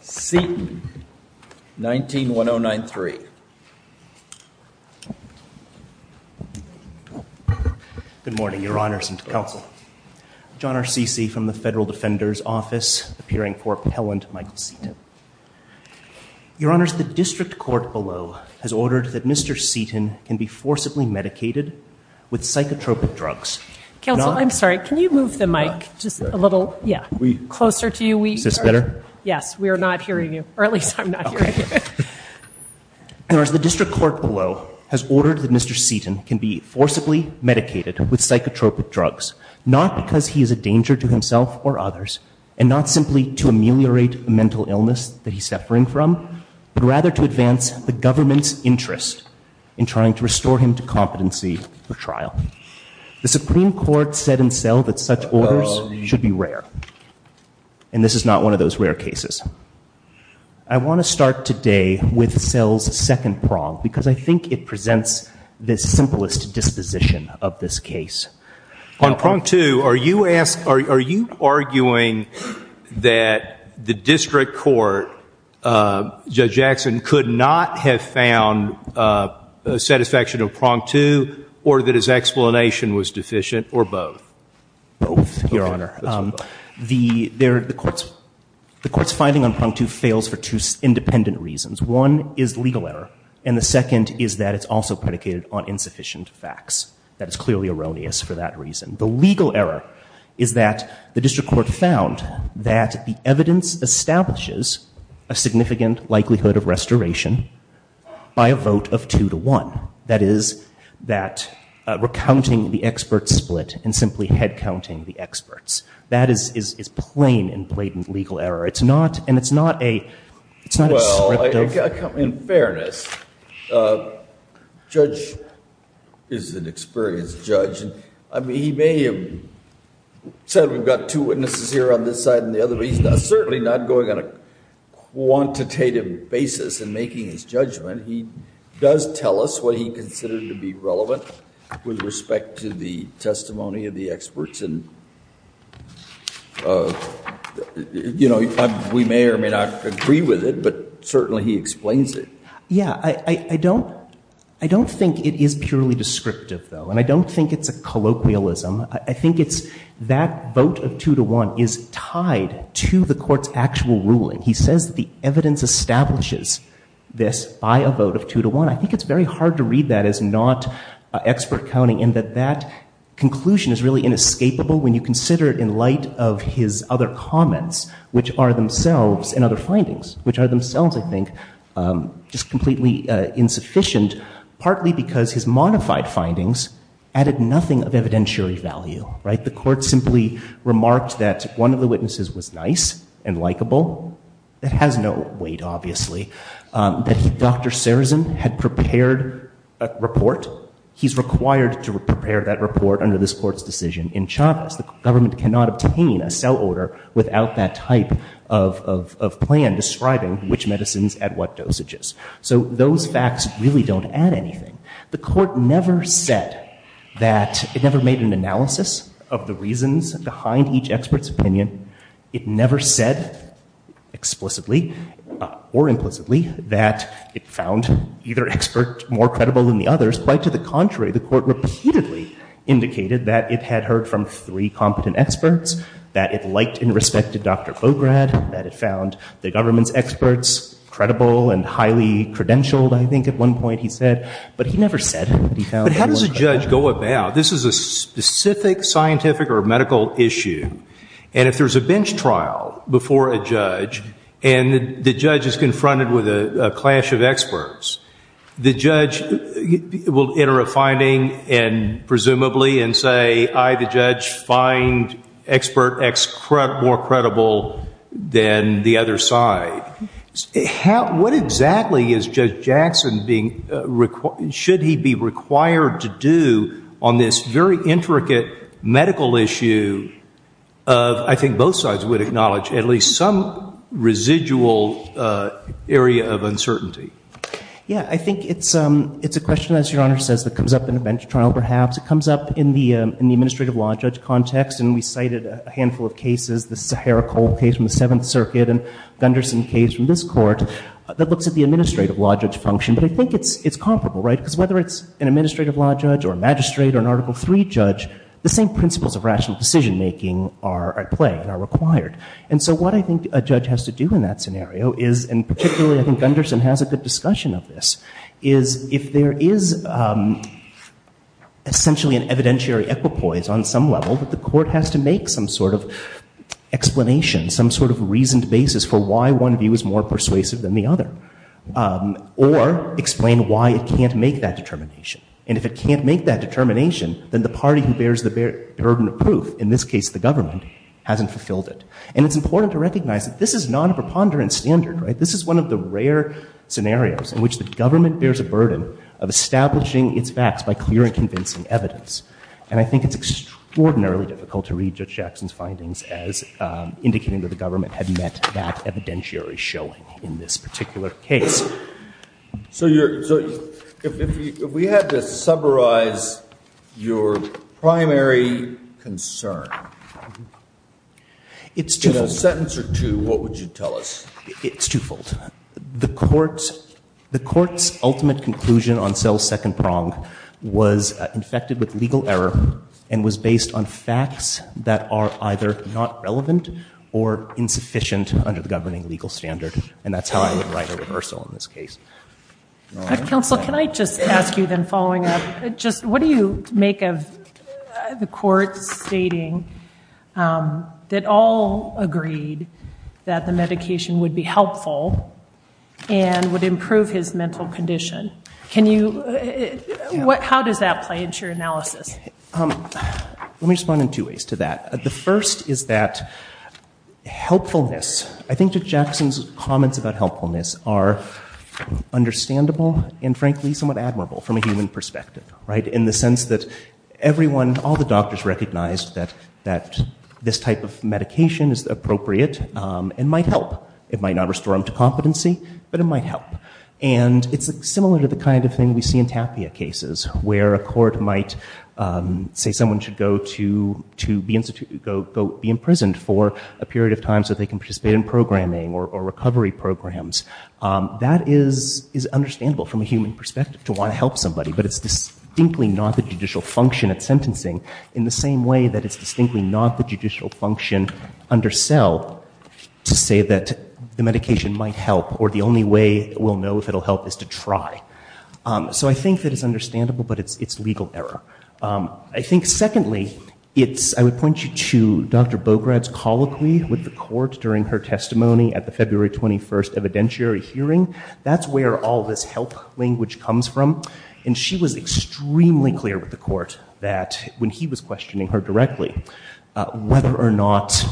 Seaton, 19-1093. Good morning, Your Honors and Counsel. John R. Ceci from the Federal Defender's Office, appearing for Appellant Michael Seaton. Your Honors, the District Court below has ordered that Mr. Seaton can be forcibly medicated with psychotropic drugs. Counsel, I'm sorry, can you move the mic just a little, yeah, closer to you? Is this better? Yes, we are not hearing you, or at least I'm not hearing you. Your Honors, the District Court below has ordered that Mr. Seaton can be forcibly medicated with psychotropic drugs, not because he is a danger to himself or others, and not simply to ameliorate a mental illness that he's suffering from, but rather to advance the government's interest in trying to restore him to competency for trial. The Supreme Court said in cell that such orders should be rare, and this is not one of those rare cases. I want to start today with cell's second prong, because I think it presents the simplest disposition of this case. On prong two, are you arguing that the District Court, Judge Jackson, could not have found a satisfaction of prong two, or that his explanation was deficient, or both? Both, Your Honor. The court's finding on prong two fails for two independent reasons. One is legal error, and the second is that it's also predicated on insufficient facts. That is clearly erroneous for that reason. The legal error is that the District Court found that the evidence establishes a significant likelihood of restoration by a vote of two to one. That is, that recounting the expert split and simply head-counting the experts. That is plain and blatant legal error. It's not, and it's not a, it's not a script of Well, in fairness, Judge is an experienced judge, and he may have said we've got two witnesses here on this side and the other, but he's certainly not going on a quantitative basis in making his judgment. He does tell us what he considered to be relevant with respect to the testimony of the experts, and, you know, we may or may not agree with it, but certainly he explains it. Yeah. I don't, I don't think it is purely descriptive, though, and I don't think it's a colloquialism. I think it's that vote of two to one is tied to the court's actual ruling. He says the evidence establishes this by a vote of two to one. I think it's very hard to read that as not expert counting in that that conclusion is really inescapable when you consider it in light of his other comments, which are themselves, and other findings, which are themselves, I think, just completely insufficient, partly because his modified findings added nothing of evidentiary value, right? The court simply remarked that one of the witnesses was nice and likable, that has no weight, obviously, that Dr. Serzin had prepared a report. He's required to prepare that report under this court's decision in Chavez. The government cannot obtain a cell order without that type of plan describing which medicines at what dosages. So those facts really don't add anything. The court never said that, it never made an analysis of the reasons behind each expert's opinion. It never said explicitly or implicitly that it found either expert more credible than the others. Quite to the contrary, the court repeatedly indicated that it had heard from three competent experts, that it liked and respected Dr. Fograd, that it found the government's opinion credentialed, I think, at one point, he said. But he never said that he found them more credible. But how does a judge go about? This is a specific scientific or medical issue. And if there's a bench trial before a judge, and the judge is confronted with a clash of experts, the judge will enter a finding, and presumably, and say, I, the judge, find expert X more credible than the other. And the question is, is Judge Jackson being, should he be required to do on this very intricate medical issue of, I think both sides would acknowledge, at least some residual area of uncertainty? Yeah. I think it's a question, as Your Honor says, that comes up in a bench trial, perhaps. It comes up in the administrative law judge context. And we cited a handful of cases, the Sahara Cold case from the Seventh Circuit, and Gunderson case from this court, that looks at the administrative law judge function. But I think it's comparable, right? Because whether it's an administrative law judge, or a magistrate, or an Article III judge, the same principles of rational decision making are at play and are required. And so what I think a judge has to do in that scenario is, and particularly, I think Gunderson has a good discussion of this, is if there is essentially an evidentiary equipoise on some level, that the court has to make some sort of explanation, some sort of reasoned basis for why one view is more persuasive than the other. Or explain why it can't make that determination. And if it can't make that determination, then the party who bears the burden of proof, in this case, the government, hasn't fulfilled it. And it's important to recognize that this is not a preponderance standard, right? This is one of the rare scenarios in which the government bears a burden of establishing its facts by clear and convincing evidence. And I think it's extraordinarily difficult to read Judge Jackson's findings as indicating that the government had met that evidentiary showing in this particular case. So if we had to summarize your primary concern, in a sentence or two, what would you tell us? It's twofold. The court's ultimate conclusion on Cell's second prong was infected with legal error and was based on facts that are either not relevant or insufficient under the governing legal standard. And that's how I would write a reversal in this case. Counsel, can I just ask you then, following up, just what do you make of the court stating that all agreed that the medication would be helpful and would improve his mental condition? Can you, how does that play into your analysis? Let me respond in two ways to that. The first is that helpfulness, I think Judge Jackson's comments about helpfulness are understandable and, frankly, somewhat admirable from a human perspective, that this type of medication is appropriate and might help. It might not restore him to competency, but it might help. And it's similar to the kind of thing we see in Tapia cases, where a court might say someone should go to be imprisoned for a period of time so they can participate in programming or recovery programs. That is understandable from a human perspective, to want to help somebody, but it's distinctly not the judicial function at sentencing, in the same way that it's distinctly not the judicial function under Sell to say that the medication might help, or the only way we'll know if it'll help is to try. So I think that it's understandable, but it's legal error. I think, secondly, I would point you to Dr. Bograd's colloquy with the court during her testimony at the February 21st evidentiary hearing. That's where all this help language comes from. And she was extremely clear with the court that, when he was questioning her directly, whether or not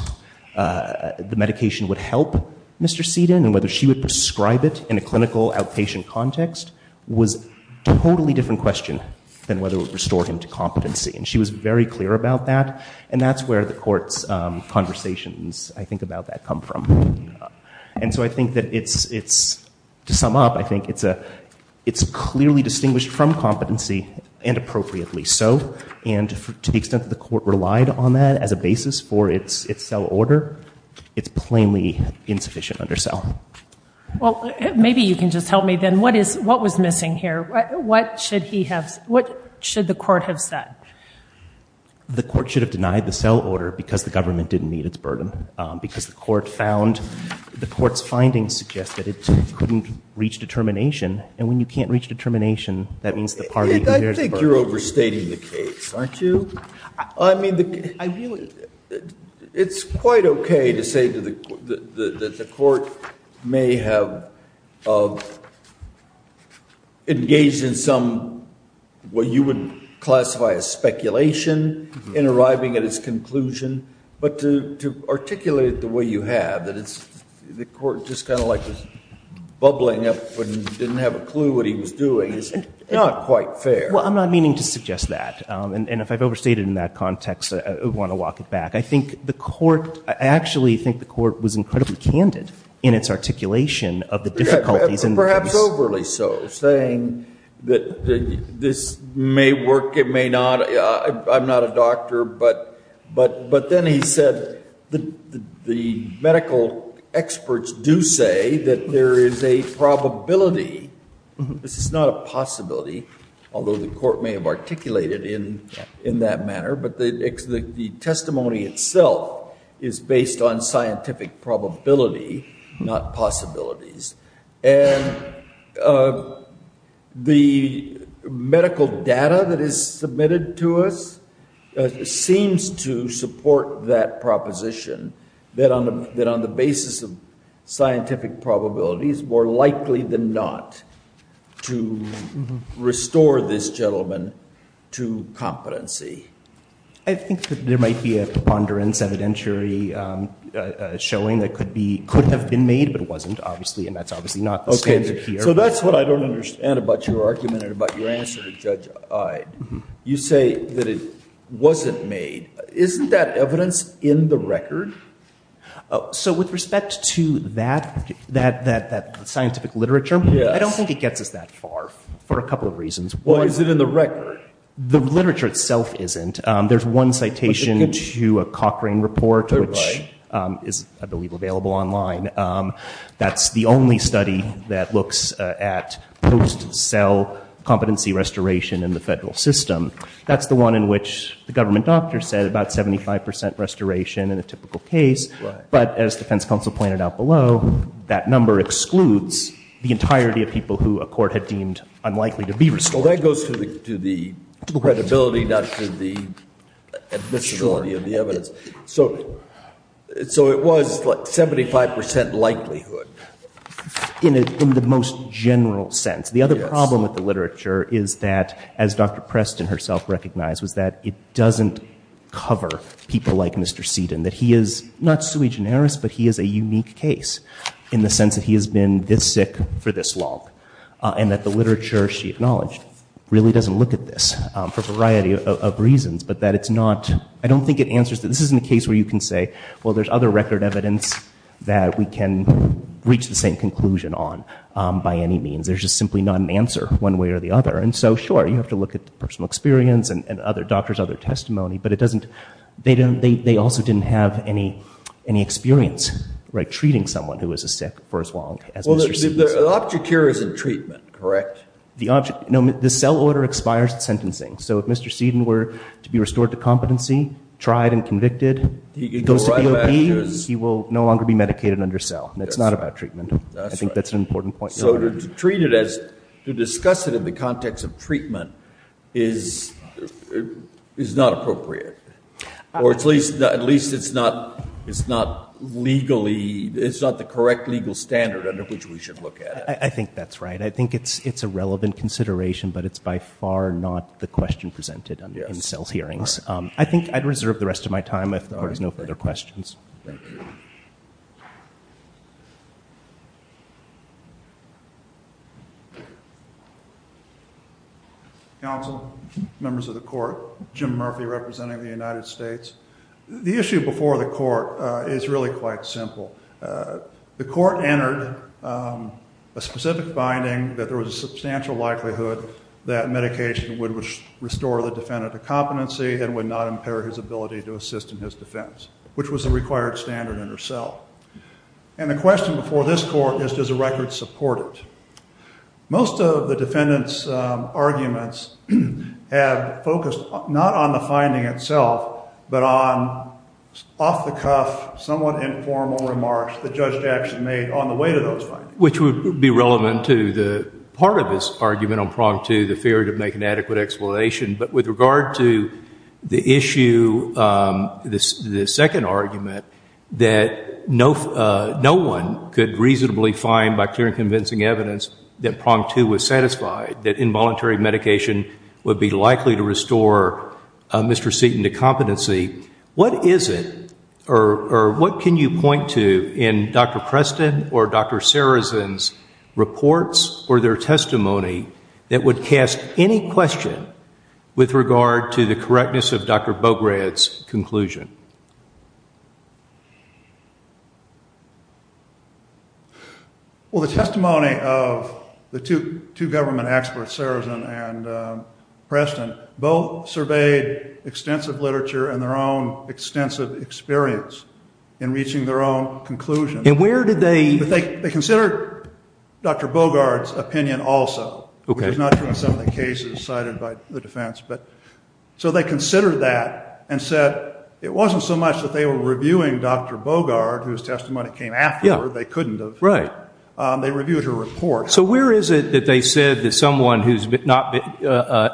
the medication would help Mr. Seaton and whether she would prescribe it in a clinical outpatient context was a totally different question than whether it would restore him to competency. And she was very clear about that. And that's where the court's conversations, I think, about that come from. And so I think that it's, to sum up, I think it's clearly distinguished from competency and appropriately so. And to the extent that the court relied on that as a basis for its Sell order, it's plainly insufficient under Sell. Well, maybe you can just help me then. What was missing here? What should he have, what should the court have said? The court should have denied the Sell order because the government didn't meet its burden. Because the court found, the court's findings suggest that it couldn't reach determination. And when you can't reach determination, that means the party who bears the burden. I think you're overstating the case, aren't you? I mean, it's quite okay to say that the court may have engaged in some, what you would classify as speculation, in arriving at its conclusion. But to articulate it the way you have, that it's, the court just kind of like was bubbling up and didn't have a clue what he was doing, is not quite fair. Well, I'm not meaning to suggest that. And if I've overstated in that context, I want to walk it back. I think the court, I actually think the court was incredibly candid in its articulation of the difficulties in the case. That's overly so, saying that this may work, it may not. I'm not a doctor, but then he said the medical experts do say that there is a probability. This is not a possibility, although the court may have articulated in that manner. But the testimony itself is based on scientific probability, not possibilities. And the medical data that is submitted to us seems to support that proposition, that on the basis of scientific probabilities, more likely than not to restore this gentleman to competency. I think that there might be a preponderance evidentiary showing that could be, could have been made, but it wasn't, obviously. And that's obviously not the standard here. So that's what I don't understand about your argument and about your answer to Judge Ide. You say that it wasn't made. Isn't that evidence in the record? So with respect to that, that scientific literature, I don't think it gets us that far for a couple of reasons. Why is it in the record? The literature itself isn't. There's one citation to a Cochrane report, which is, I believe, available online. That's the only study that looks at post-cell competency restoration in the federal system. That's the one in which the government doctor said about 75 percent restoration in a typical case. But as defense counsel pointed out below, that number excludes the entirety of people who a court had deemed unlikely to be restored. Well, that goes to the credibility, not to the admissibility of the evidence. So it was like 75 percent likelihood. In the most general sense. The other problem with the literature is that, as Dr. Preston herself recognized, was that it doesn't cover people like Mr. Seaton, that he is not sui generis, but he is a unique case in the sense that he has been this sick for this long. And that the literature she acknowledged really doesn't look at this for a variety of reasons, but that it's not, I don't think it answers, this isn't a case where you can say, well, there's other record evidence that we can reach the same conclusion on by any means. There's just simply not an answer one way or the other. And so, sure, you have to look at the personal experience and other doctors, other testimony, but it doesn't, they also didn't have any experience treating someone who was sick for as long as Mr. Seaton. The object here is in treatment, correct? The object, no, the cell order expires at sentencing. So if Mr. Seaton were to be restored to competency, tried and convicted, he goes to DOP, he will no longer be medicated under cell. It's not about treatment. I think that's an important point. So to treat it as, to discuss it in the context of treatment is not appropriate. Or at least it's not, it's not legally, it's not the correct legal standard under which we should look at it. I think that's right. I think it's, it's a relevant consideration, but it's by far not the question presented in cell hearings. I think I'd reserve the rest of my time if there is no further questions. Thank you. Counsel, members of the court, Jim Murphy representing the United States. The issue before the court is really quite simple. The court entered a specific finding that there was a substantial likelihood that medication would restore the defendant to competency and would not impair his ability to assist in his defense, which was the required standard under cell. And the question before this court is does the record support it? Most of the defendant's arguments have focused not on the finding itself, but on off-the-cuff, somewhat informal remarks the judge actually made on the way to those findings. Which would be relevant to the part of his argument on prong two, the fear to make an adequate explanation. But with regard to the issue, the second argument, that no one could reasonably find by clear and convincing evidence that prong two was satisfied, that involuntary medication would be likely to restore Mr. Seton to competency, what is it, or what can you point to in Dr. Preston or Dr. Sarazin's reports or their testimony that would cast any question with regard to the correctness of Dr. Bograd's conclusion? Well, the testimony of Dr. Bograd is that both the two government experts, Sarazin and Preston, both surveyed extensive literature and their own extensive experience in reaching their own conclusions. And where did they? They considered Dr. Bograd's opinion also, which is not true in some of the cases cited by the defense. So they considered that and said it wasn't so much that they were reviewing Dr. Bograd, whose testimony came afterward, they couldn't have. They reviewed her report. So where is it that they said that someone who's not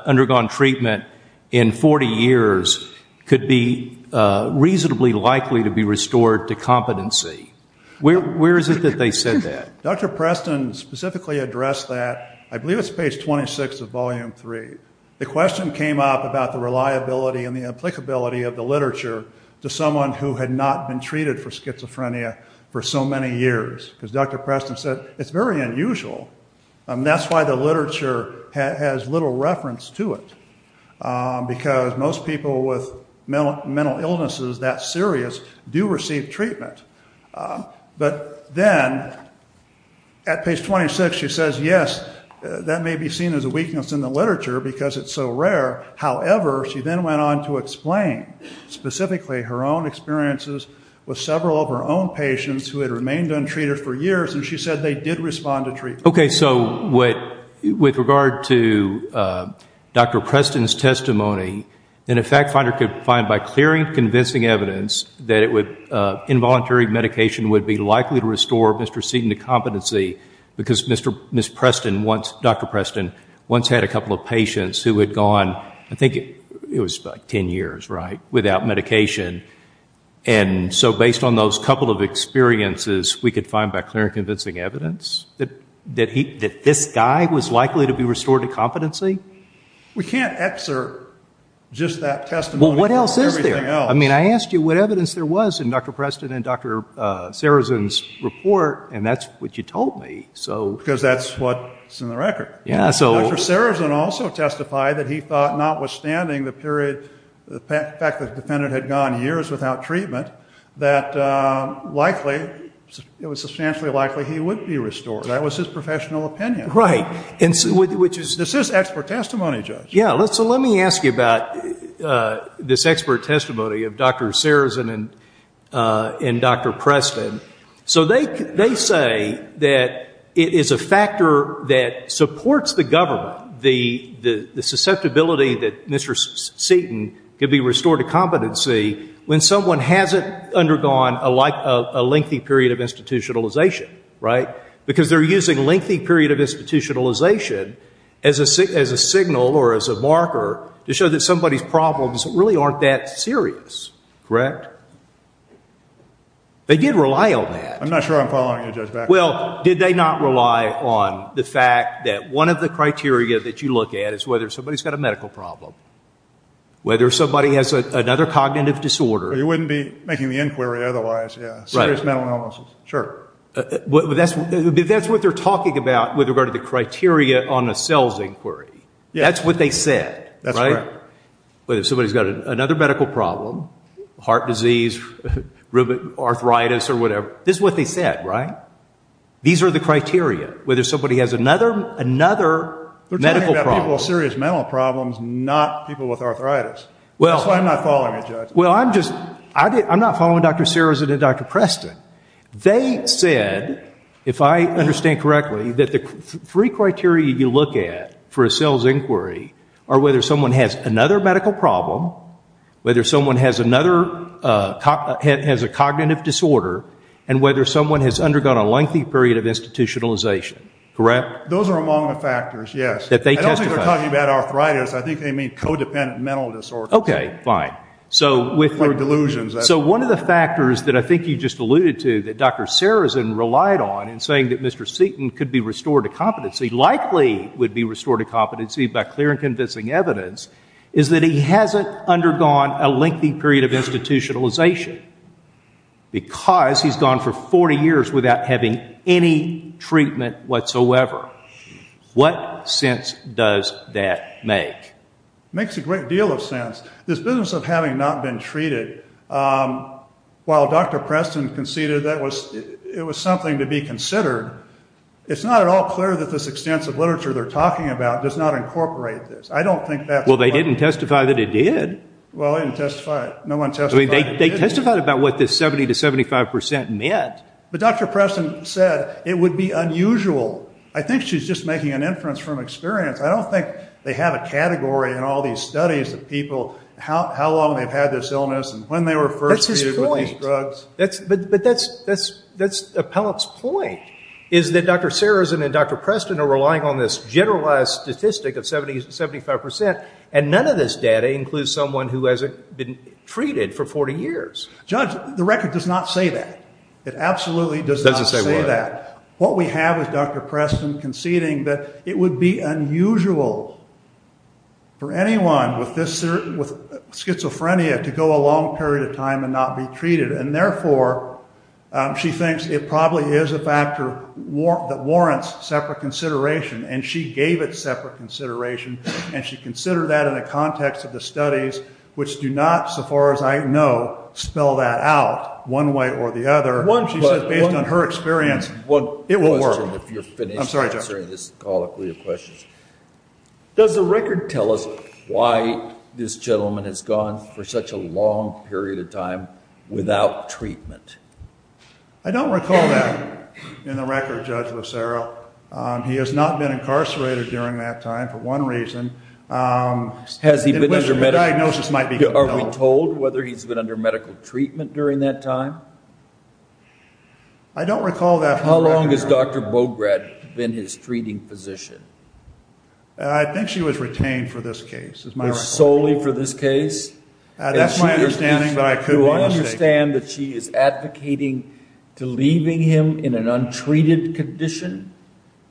undergone treatment in 40 years could be reasonably likely to be restored to competency? Where is it that they said that? Dr. Preston specifically addressed that, I believe it's page 26 of volume 3. The question came up about the reliability and the applicability of the literature to someone who had not been treated for 40 years, because Dr. Preston said it's very unusual. That's why the literature has little reference to it, because most people with mental illnesses that serious do receive treatment. But then at page 26, she says, yes, that may be seen as a weakness in the literature because it's so rare. However, she then went on to explain specifically her own experiences with several of her own patients who had remained untreated for years, and she said they did respond to treatment. Okay. So with regard to Dr. Preston's testimony, then a fact finder could find by clearing convincing evidence that involuntary medication would be likely to restore Mr. Seaton to competency, because Dr. Preston once had a couple of patients who had gone, I think it was about 10 years, without medication. And so based on those couple of experiences, we could find by clearing convincing evidence that this guy was likely to be restored to competency? We can't excerpt just that testimony from everything else. Well, what else is there? I mean, I asked you what evidence there was in Dr. Preston and Dr. Sarazin's report, and that's what you told me. Because that's what's in the record. Dr. Sarazin also testified that he thought notwithstanding the period, the fact that the defendant had gone years without treatment, that likely, it was substantially likely he would be restored. That was his professional opinion. Right. Which is... This is expert testimony, Judge. Yeah. So let me ask you about this expert testimony of Dr. Sarazin and Dr. Preston. So they say that it is a factor that supports the government, the susceptibility that Mr. Seaton could be restored to competency when someone hasn't undergone a lengthy period of institutionalization, right? Because they're using lengthy period of institutionalization as a signal or as a marker to show that somebody's problems really aren't that serious, correct? They did rely on that. I'm not sure I'm following you, Judge Baxter. Well, did they not rely on the fact that one of the criteria that you look at is whether somebody's got a medical problem, whether somebody has another cognitive disorder... You wouldn't be making the inquiry otherwise, yeah. Serious mental illnesses, sure. That's what they're talking about with regard to the criteria on the CELS inquiry. That's what they said, right? That's correct. Whether somebody's got another medical problem, heart disease, rheumatoid arthritis or whatever, this is what they said, right? These are the criteria, whether somebody has another medical problem. They're talking about people with serious mental problems, not people with arthritis. That's why I'm not following you, Judge. Well, I'm just... I'm not following Dr. Searson and Dr. Preston. They said, if I understand correctly, that the three criteria you look at for a CELS inquiry are whether someone has another medical problem, whether someone has a cognitive disorder, and whether someone has undergone a lengthy period of institutionalization, correct? Those are among the factors, yes. That they testified. I don't think they're talking about arthritis. I think they mean codependent mental disorders. Okay, fine. So with... Delusions, that's... So one of the factors that I think you just alluded to that Dr. Searson relied on in saying that Mr. Seaton could be restored to competency, likely would be restored to competency by clear and convincing evidence, is that he hasn't undergone a lengthy period of institutionalization because he's gone for 40 years without having any treatment whatsoever. What sense does that make? Makes a great deal of sense. This business of having not been treated, while Dr. Preston conceded that it was something to be considered, it's not at all clear that this extensive literature they're talking about does not incorporate this. I don't think that's... Well, they didn't testify that it did. They testified about what this 70 to 75% meant. But Dr. Preston said it would be unusual. I think she's just making an inference from experience. I don't think they have a category in all these studies of people, how long they've had this illness and when they were first treated with these drugs. But that's Appellate's point, is that Dr. Searson and Dr. Preston are relying on this generalized statistic of 70 to 75%, and none of this data includes someone who hasn't been treated for 40 years. Judge, the record does not say that. It absolutely does not say that. What we have is Dr. Preston conceding that it would be unusual for anyone with schizophrenia to go a long period of time and not be treated. And therefore, she thinks it probably is a factor that warrants separate consideration, and she gave it separate consideration, and she considered that in the context of the studies, which do not, so far as I know, spell that out one way or the other. One question. She says based on her experience, it will work. One question, if you're finished answering this call, if we have questions. Does the record tell us why this gentleman has gone for such a long period of time without treatment? I don't recall that in the record, Judge Lucero. He has not been incarcerated during that time for one reason. Has he been under medical treatment during that time? I don't recall that. How long has Dr. Bograd been his treating physician? I think she was retained for this case. Was solely for this case? That's my understanding, but I could be mistaken. You understand that she is advocating to leaving him in an untreated condition,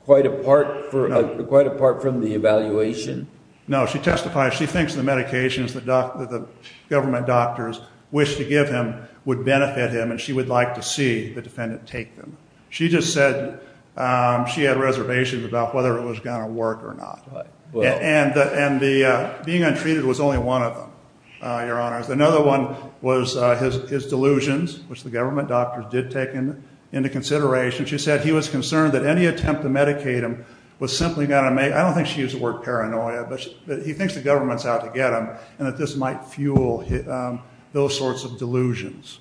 quite apart from the evaluation? No. She testifies she thinks the medications that the government doctors wish to give him would benefit him, and she would like to see the defendant take them. She just said she had reservations about whether it was going to work or not, and being untreated was only one of them, Your Honor. Another one was his delusions, which the government doctors did take into consideration. She said he was concerned that any attempt to medicate him was simply going to make, I don't think she used the word paranoia, but he thinks the government is out to get him, and that this might fuel those sorts of delusions.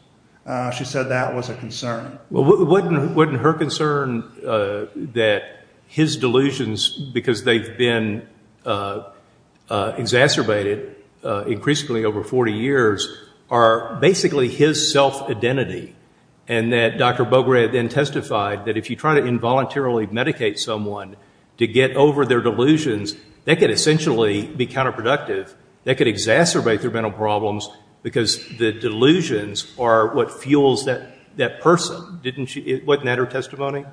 She said that was a concern. Wasn't her concern that his delusions, because they've been exacerbated increasingly over 40 years, are basically his self-identity, and that Dr. Bograd then testified that if you try to involuntarily medicate someone to get over their delusions, that could essentially be counterproductive, that could exacerbate their mental problems, because the delusions are what fuels that person. Wasn't that her testimony?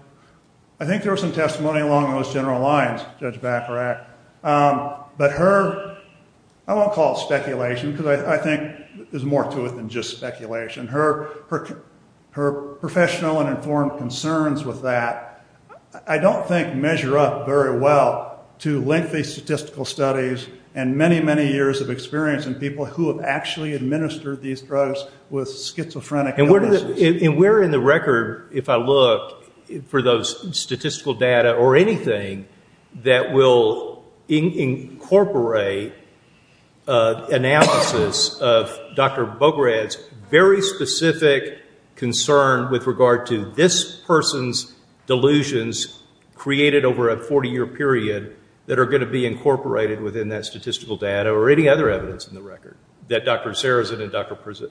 I think there was some testimony along those general lines, Judge Bacharach, but her, I think, there's more to it than just speculation. Her professional and informed concerns with that, I don't think measure up very well to lengthy statistical studies and many, many years of experience in people who have actually administered these drugs with schizophrenic illnesses. And where in the record, if I look, for those statistical data or anything that will incorporate analysis of Dr. Bograd's very specific concern with regard to this person's delusions created over a 40-year period that are going to be incorporated within that statistical data or any other evidence in the record that Dr. Sarazin and Dr. Preston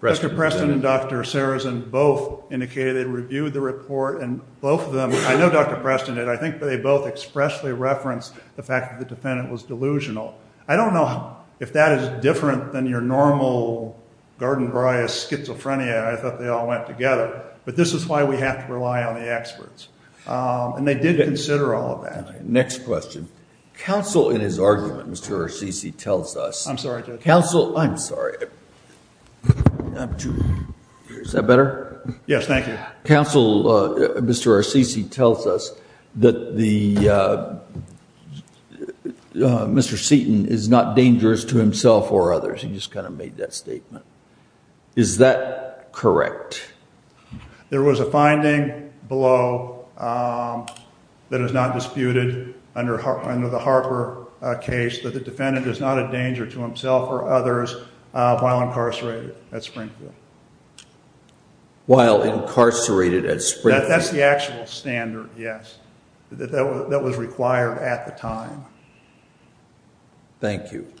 presented? Dr. Preston and Dr. Sarazin both indicated they reviewed the report, and both of them, I know Dr. Preston did, I think they both expressly referenced the fact that the defendant was delusional. I don't know if that is different than your normal garden bryo schizophrenia. I thought they all went together. But this is why we have to rely on the experts. And they did consider all of that. Next question. Counsel in his argument, Mr. Orsici, tells us... I'm sorry, Judge. Counsel, I'm sorry. Is that better? Yes, thank you. Counsel, Mr. Orsici tells us that Mr. Seaton is not dangerous to himself or others. He just kind of made that statement. Is that correct? There was a finding below that is not disputed under the Harper case that the defendant is not a danger to himself or others while incarcerated at Springfield. That's the actual standard, yes, that was required at the time. Thank you.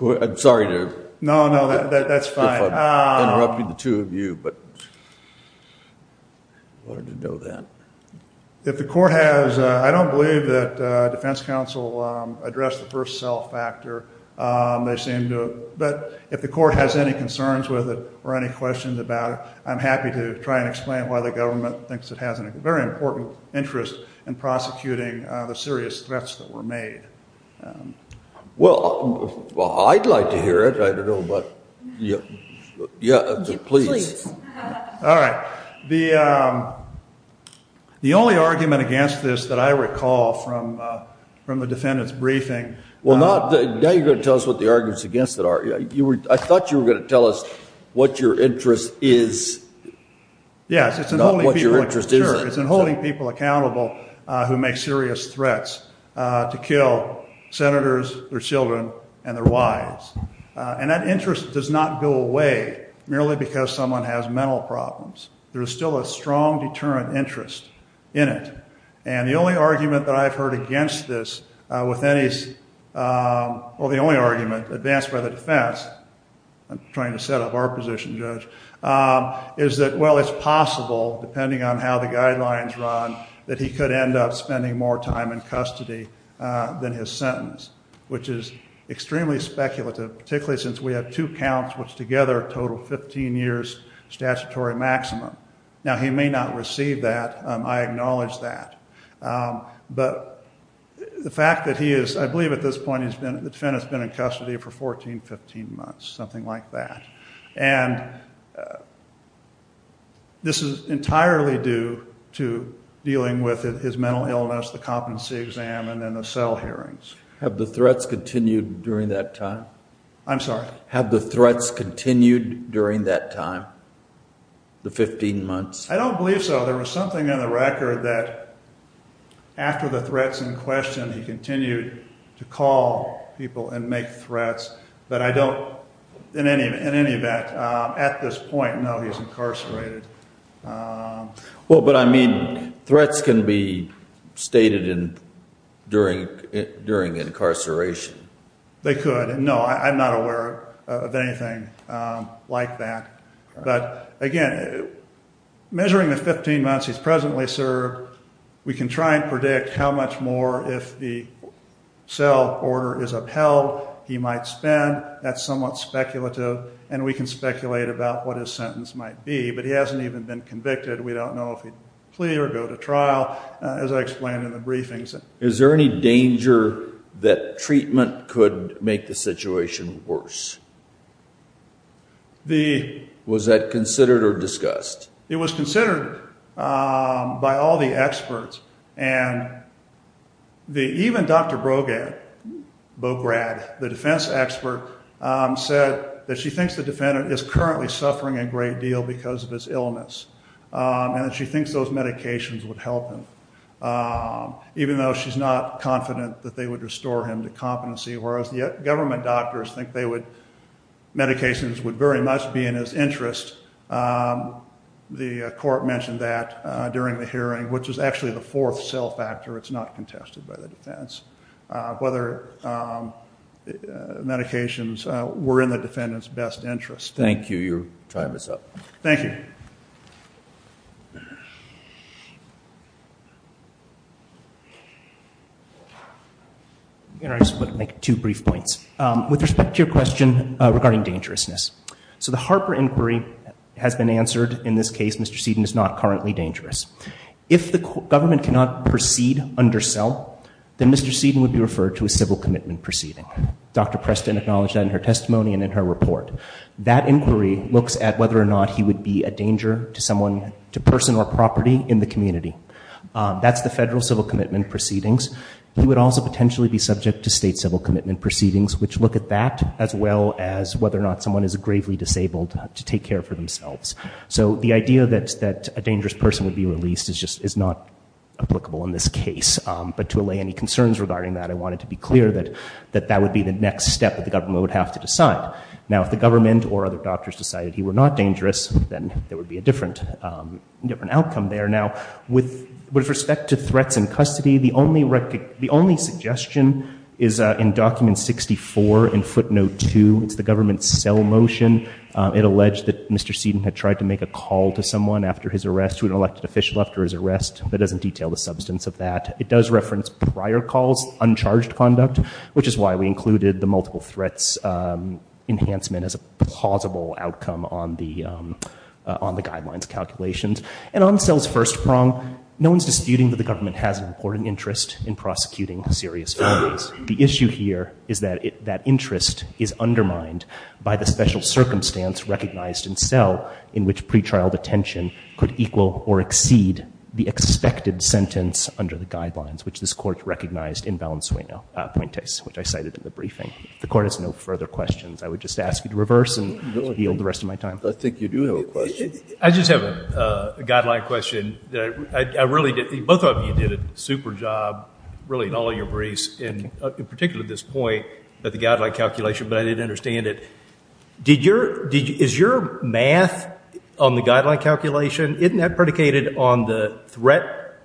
I'm sorry to... No, no, that's fine. ...interrupted the two of you, but I wanted to know that. If the court has... I don't believe that defense counsel addressed the first self-factor. They seem to... But if the court has any concerns with it or any questions about it, I'm happy to try and explain why the government thinks it has a very important interest in prosecuting the serious threats that were made. Well, I'd like to hear it. I don't know about... Yeah, please. All right. The only argument against this that I recall from the defendant's briefing... Well, now you're going to tell us what the arguments against it are. I thought you were going to tell us what your interest is, not what your interest isn't. Yes, it's in holding people accountable who make serious threats to kill senators, their children, and their wives. And that interest does not go away merely because someone has mental problems. There's still a strong deterrent interest in it. And the only argument that I've heard against this with any... Well, the only argument advanced by the defense... I'm trying to set up our position, Judge, is that, well, it's possible, depending on how the guidelines run, that he could end up spending more time in custody than his sentence, which is extremely speculative, particularly since we have two counts which together total 15 years statutory maximum. Now, he may not receive that. I acknowledge that. But the fact that he is... I believe at this point the defendant's been in custody for 14, 15 months, something like that. And this is entirely due to dealing with his mental illness, the competency exam, and then the cell hearings. Have the threats continued during that time? I'm sorry? Have the threats continued during that time? The 15 months? I don't believe so. There was something in the record that after the threats in question, he continued to call people and make threats. But I don't, in any event, at this point know he's incarcerated. Well, but I mean, threats can be stated during incarceration. They could. No, I'm not aware of anything like that. But again, measuring the 15 months he's presently served, we can try and predict how much more, if the cell order is upheld, he might spend. That's somewhat speculative. And we can speculate about what his sentence might be. But he hasn't even been convicted. We don't know if he'd plea or go to trial, as I explained in the briefings. Is there any danger that treatment could make the situation worse? Was that considered or discussed? It was considered by all the experts. And even Dr. Bograd, the defense expert, said that she thinks the defendant is currently suffering a great deal because of his illness. And that she thinks those medications would help him, even though she's not confident that they would restore him to competency. Whereas the government doctors think they would, medications would very much be in his interest. The court mentioned that during the hearing, which was actually the fourth cell factor. It's not contested by the defense. Whether medications were in the defendant's best interest. Thank you. Your time is up. Thank you. I just want to make two brief points. With respect to your question regarding dangerousness. So the Harper inquiry has been answered. In this case, Mr. Seedon is not currently dangerous. If the government cannot proceed under cell, then Mr. Seedon would be referred to a civil commitment proceeding. Dr. Preston acknowledged that in her testimony and in her report. That inquiry looks at whether or not he would be a danger to someone, to person or property in the community. That's the federal civil commitment proceedings. He would also potentially be subject to state civil commitment proceedings, which look at that as well as whether or not someone is gravely disabled to take care of themselves. So the idea that a dangerous person would be released is just not applicable in this case. But to allay any concerns regarding that, I wanted to be clear that that would be the next step that the government would have to decide. Now, if the government or other doctors decided he were not dangerous, then there would be a different outcome there. Now, with respect to threats in custody, the only suggestion is in document 64 in footnote 2. It's the government's cell motion. It alleged that Mr. Seedon had tried to make a call to someone after his arrest, to an elected official after his arrest. That doesn't detail the substance of that. It does reference prior calls, uncharged conduct, which is why we included the multiple threats enhancement as a plausible outcome on the guidelines calculations. And on cell's first prong, no one's disputing that the government has an important interest in prosecuting serious felonies. The issue here is that that interest is undermined by the special circumstance recognized in cell in which pretrial detention could equal or exceed the expected sentence under the guidelines, which this court recognized in Valenzuela Puentes, which I cited in the briefing. The court has no further questions. I would just ask you to reverse and yield the rest of my time. I think you do have a question. I just have a guideline question. Both of you did a super job, really, in all your briefs, and in particular this point about the guideline calculation, but I didn't understand it. Is your math on the guideline calculation, isn't that predicated on the threat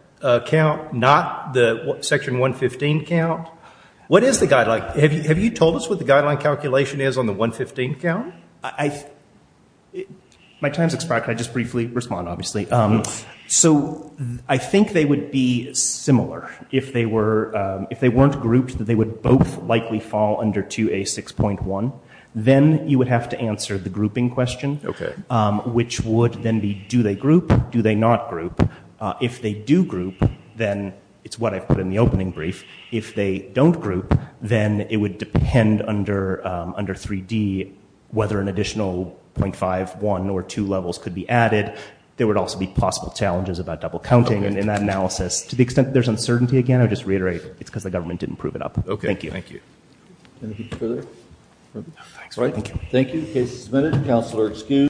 count, not the Section 115 count? What is the guideline? Have you told us what the guideline calculation is on the 115 count? My time's expired. Can I just briefly respond, obviously? Yes. So I think they would be similar. If they weren't grouped, they would both likely fall under 2A6.1. Then you would have to answer the grouping question, which would then be If they don't group, then it would depend under 3D whether an additional .5, 1, or 2 levels could be added. There would also be possible challenges about double counting in that analysis. To the extent that there's uncertainty again, I would just reiterate it's because the government didn't prove it up. Thank you. Okay. Thank you. Anything further? No, thanks. All right. Thank you. Thank you. The case is submitted. Counselor excused.